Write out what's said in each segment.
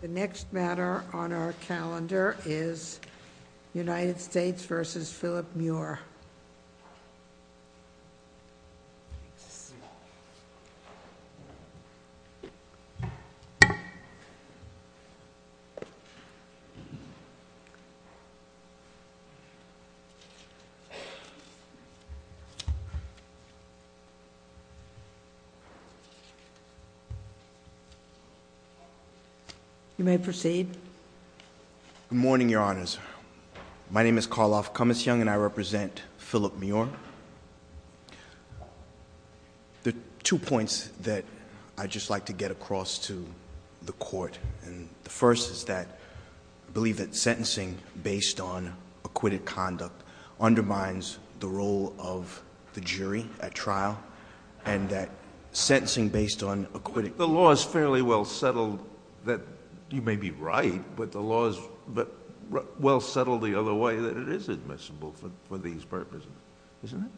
The next matter on our calendar is United States v. Philip Muir. You may proceed. Good morning, Your Honors. My name is Karloff Cummings-Young, and I represent Philip Muir. There are two points that I'd just like to get across to the Court. And the first is that I believe that sentencing based on acquitted conduct undermines the role of the jury at trial, You may be right, but the law is well settled the other way that it is admissible for these purposes, isn't it?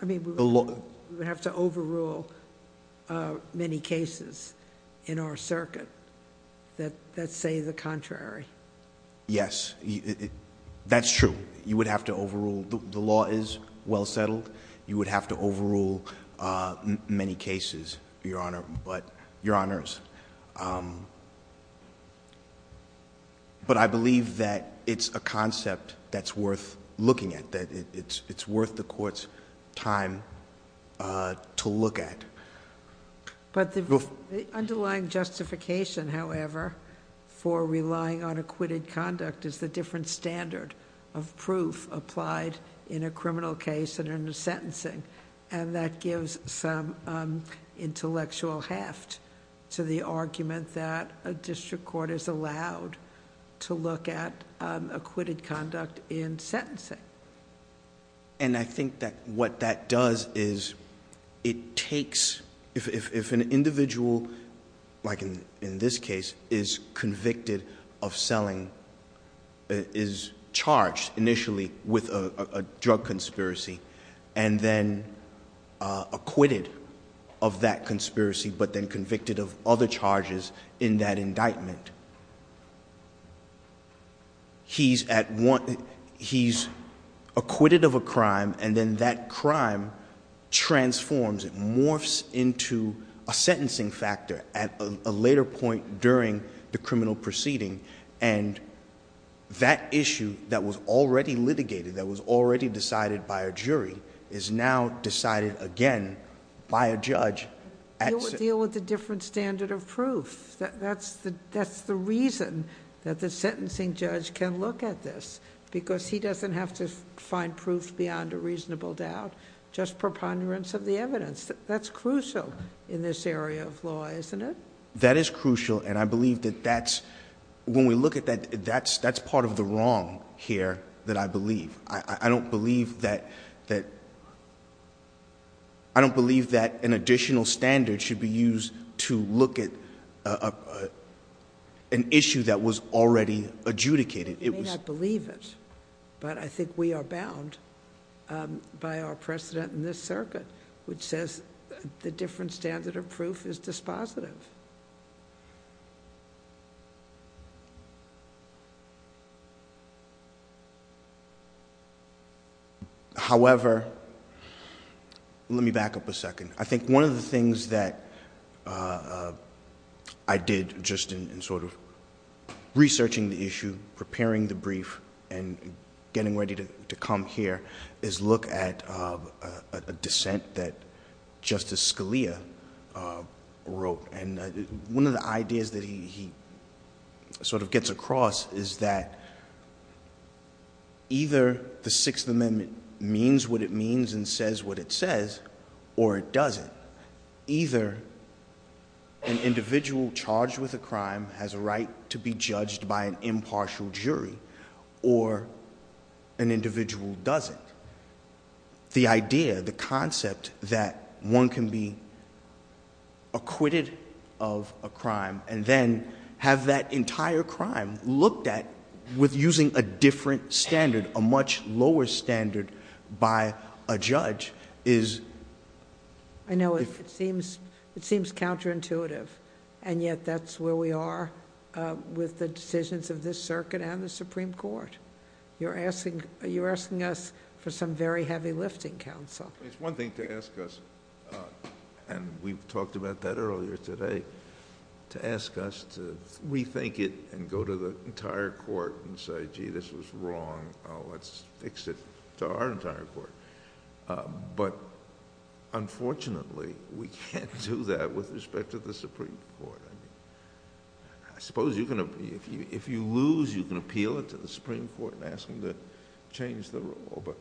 I mean, we would have to overrule many cases in our circuit that say the contrary. Yes, that's true. You would have to overrule. The law is well settled. You would have to overrule many cases, Your Honors. But I believe that it's a concept that's worth looking at, that it's worth the Court's time to look at. But the underlying justification, however, for relying on acquitted conduct is the different standard of proof applied in a criminal case and in a sentencing. And that gives some intellectual heft to the argument that a district court is allowed to look at acquitted conduct in sentencing. And I think that what that does is it takes, if an individual, like in this case, is convicted of selling, is charged initially with a drug conspiracy, and then acquitted of that conspiracy, but then convicted of other charges in that indictment, he's acquitted of a crime, and then that crime transforms. It morphs into a sentencing factor at a later point during the criminal proceeding. And that issue that was already litigated, that was already decided by a jury, is now decided again by a judge. You would deal with a different standard of proof. That's the reason that the sentencing judge can look at this, because he doesn't have to find proof beyond a reasonable doubt, just preponderance of the evidence. That's crucial in this area of law, isn't it? That is crucial, and I believe that that's, when we look at that, that's part of the wrong here that I believe. I don't believe that an additional standard should be used to look at an issue that was already adjudicated. You may not believe it, but I think we are bound by our precedent in this circuit, which says the different standard of proof is dispositive. However, let me back up a second. I think one of the things that I did, just in sort of researching the issue, preparing the brief, and getting ready to come here, is look at a dissent that Justice Scalia wrote. One of the ideas that he sort of gets across is that either the Sixth Amendment means what it means and says what it says, or it doesn't. Either an individual charged with a crime has a right to be judged by an impartial jury, or an individual doesn't. The idea, the concept, that one can be acquitted of a crime and then have that entire crime looked at with using a different standard, a much lower standard by a judge is... I know it seems counterintuitive, and yet that's where we are with the decisions of this circuit and the Supreme Court. You're asking us for some very heavy lifting, Counsel. It's one thing to ask us, and we've talked about that earlier today, to ask us to rethink it and go to the entire court and say, gee, this was wrong. Let's fix it to our entire court. Unfortunately, we can't do that with respect to the Supreme Court. I suppose if you lose, you can appeal it to the Supreme Court and ask them to change the rule, but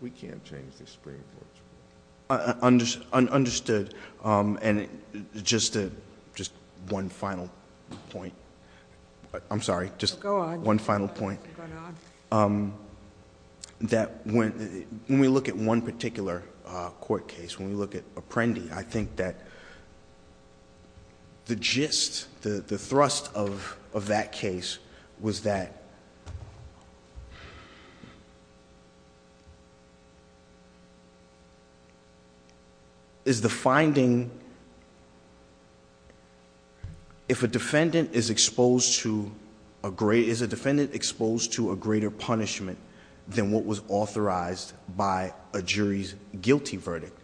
we can't change the Supreme Court's rule. Understood, and just one final point. I'm sorry, just one final point. Go on. Go on. When we look at one particular court case, when we look at Apprendi, I think that the gist, the thrust of that case was that... Is the finding... If a defendant is exposed to... Is a defendant exposed to a greater punishment than what was authorized by a jury's guilty verdict?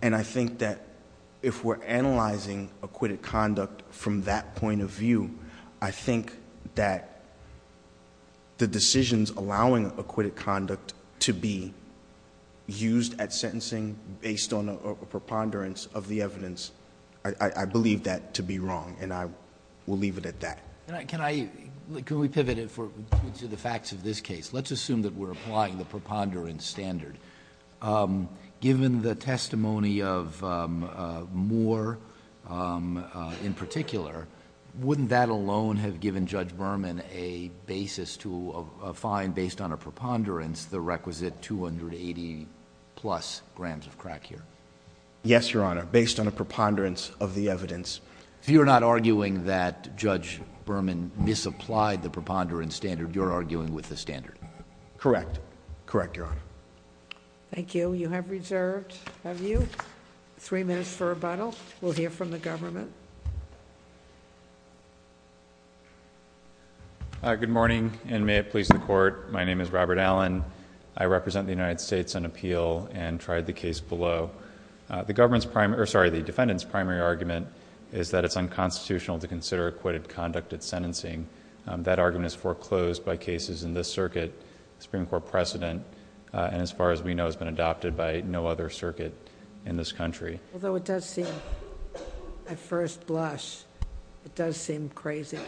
And I think that if we're analyzing acquitted conduct from that point of view, I think that the decisions allowing acquitted conduct to be used at sentencing based on a preponderance of the evidence, I believe that to be wrong, and I will leave it at that. Can I... Can we pivot to the facts of this case? Let's assume that we're applying the preponderance standard. Given the testimony of Moore in particular, wouldn't that alone have given Judge Berman a basis to find, based on a preponderance, the requisite 280-plus grams of crack here? Yes, Your Honor, based on a preponderance of the evidence. So you're not arguing that Judge Berman misapplied the preponderance standard. You're arguing with the standard? Correct. Correct, Your Honor. Thank you. You have reserved... Have you? Three minutes for rebuttal. We'll hear from the government. Good morning, and may it please the Court. My name is Robert Allen. I represent the United States on appeal and tried the case below. The defendant's primary argument is that it's unconstitutional to consider acquitted conduct at sentencing. That argument is foreclosed by cases in this circuit. The Supreme Court precedent, as far as we know, has been adopted by no other circuit in this country. Although it does seem, at first blush, it does seem crazy.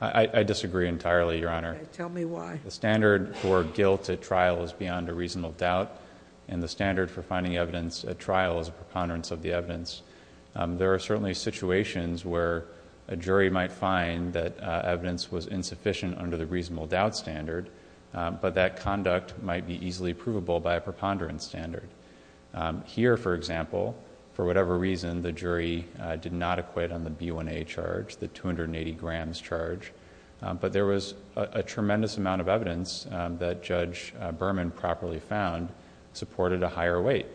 I disagree entirely, Your Honor. Tell me why. The standard for guilt at trial is beyond a reasonable doubt, and the standard for finding evidence at trial is a preponderance of the evidence. There are certainly situations where a jury might find that evidence was insufficient under the reasonable doubt standard, but that conduct might be easily provable by a preponderance standard. Here, for example, for whatever reason, the jury did not acquit on the B1A charge, the 280 grams charge, but there was a tremendous amount of evidence that Judge Berman properly found supported a higher weight.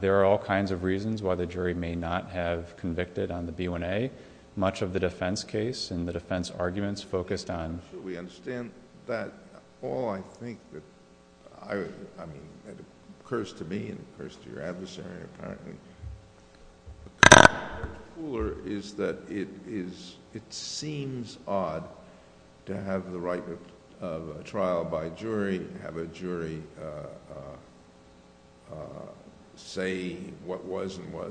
There are all kinds of reasons why the jury may not have convicted on the B1A. Much of the defense case and the defense arguments focused on... Should we understand that all I think that... I mean, it occurs to me and it occurs to your adversary, apparently, is that it seems odd to have the right of a trial by jury, have a jury say what was and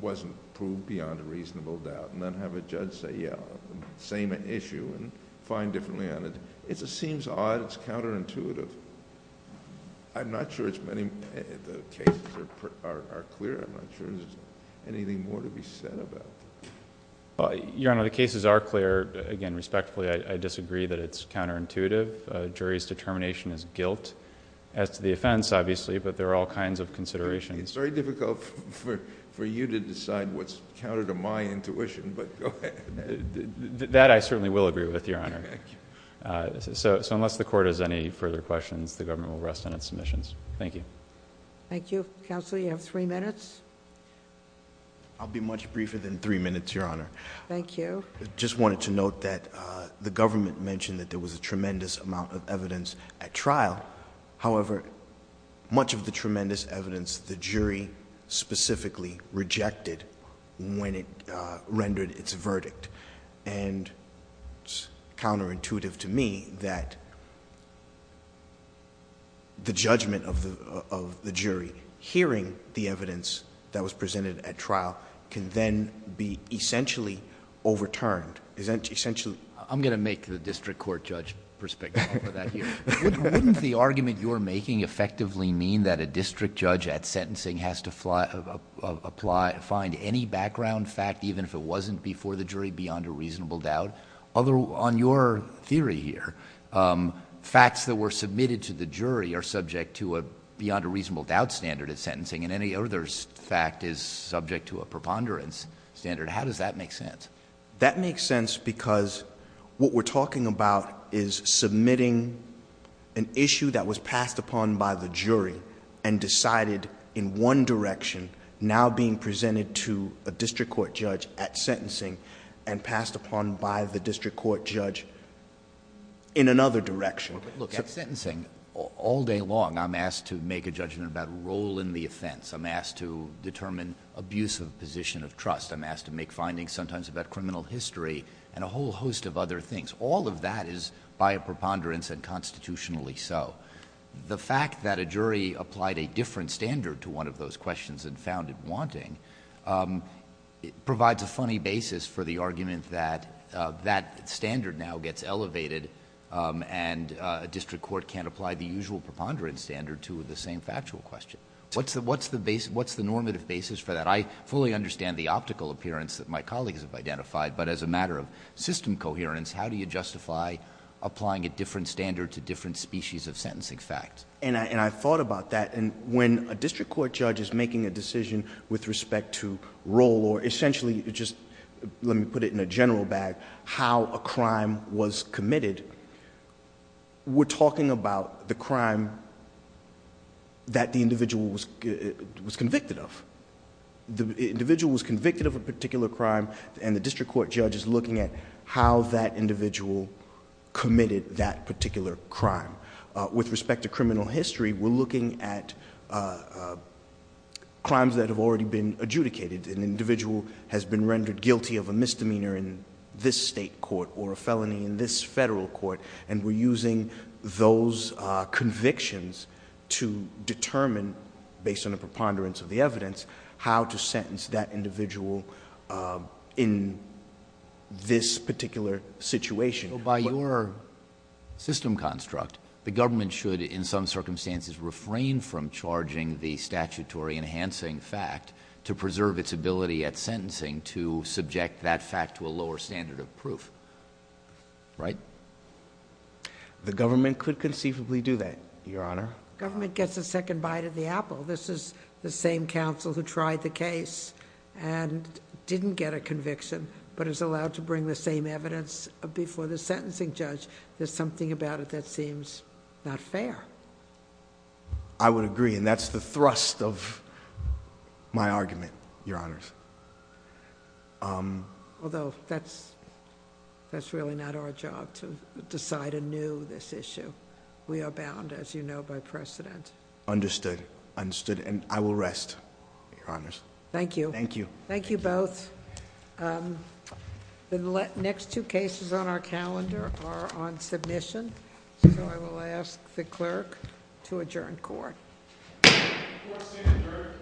wasn't proved beyond a reasonable doubt, and then have a judge say, yeah, same issue and find differently on it. It seems odd. It's counterintuitive. I'm not sure the cases are clear. I'm not sure there's anything more to be said about it. Your Honor, the cases are clear. Again, respectfully, I disagree that it's counterintuitive. A jury's determination is guilt as to the offense, obviously, but there are all kinds of considerations. It's very difficult for you to decide what's counter to my intuition, but go ahead. That I certainly will agree with, Your Honor. Thank you. Unless the court has any further questions, the government will rest on its submissions. Thank you. Thank you. Counsel, you have three minutes. I'll be much briefer than three minutes, Your Honor. Thank you. I just wanted to note that the government mentioned that there was a tremendous amount of evidence at trial. However, much of the tremendous evidence, the jury specifically rejected when it rendered its verdict. It's counterintuitive to me that the judgment of the jury hearing the evidence that was presented at trial can then be essentially overturned. I'm going to make the district court judge perspective on that here. Wouldn't the argument you're making effectively mean that a district judge at sentencing has to find any background fact, even if it wasn't before the jury, beyond a reasonable doubt? On your theory here, facts that were submitted to the jury are subject to a beyond a reasonable doubt standard at sentencing, and any other fact is subject to a preponderance standard. How does that make sense? That makes sense because what we're talking about is submitting an issue that was passed upon by the jury and decided in one direction, now being presented to a district court judge at sentencing and passed upon by the district court judge in another direction. Look, at sentencing, all day long, I'm asked to make a judgment about role in the offense. I'm asked to determine abuse of position of trust. I'm asked to make findings sometimes about criminal history and a whole host of other things. All of that is by a preponderance and constitutionally so. The fact that a jury applied a different standard to one of those questions and found it wanting provides a funny basis for the argument that that standard now gets elevated and a district court can't apply the usual preponderance standard to the same factual question. What's the normative basis for that? I fully understand the optical appearance that my colleagues have identified, but as a matter of system coherence, how do you justify applying a different standard to different species of sentencing fact? I thought about that. When a district court judge is making a decision with respect to role or essentially, just let me put it in a general bag, how a crime was committed, we're talking about the crime that the individual was convicted of. The individual was convicted of a particular crime and the district court judge is looking at how that individual committed that particular crime. With respect to criminal history, we're looking at crimes that have already been adjudicated. An individual has been rendered guilty of a misdemeanor in this state court or a felony in this federal court. We're using those convictions to determine, based on the preponderance of the evidence, how to sentence that individual in this particular situation. By your system construct, the government should, in some circumstances, refrain from charging the statutory enhancing fact to preserve its ability at sentencing to subject that fact to a lower standard of proof. Right? The government could conceivably do that, Your Honor. Government gets a second bite of the apple. This is the same counsel who tried the case and didn't get a conviction, but is allowed to bring the same evidence before the sentencing judge. There's something about it that seems not fair. I would agree, and that's the thrust of my argument, Your Honors. Although that's really not our job to decide anew this issue. We are bound, as you know, by precedent. Understood. Understood. And I will rest, Your Honors. Thank you. Thank you. Thank you both. The next two cases on our calendar are on submission, so I will ask the clerk to adjourn court. Court is adjourned.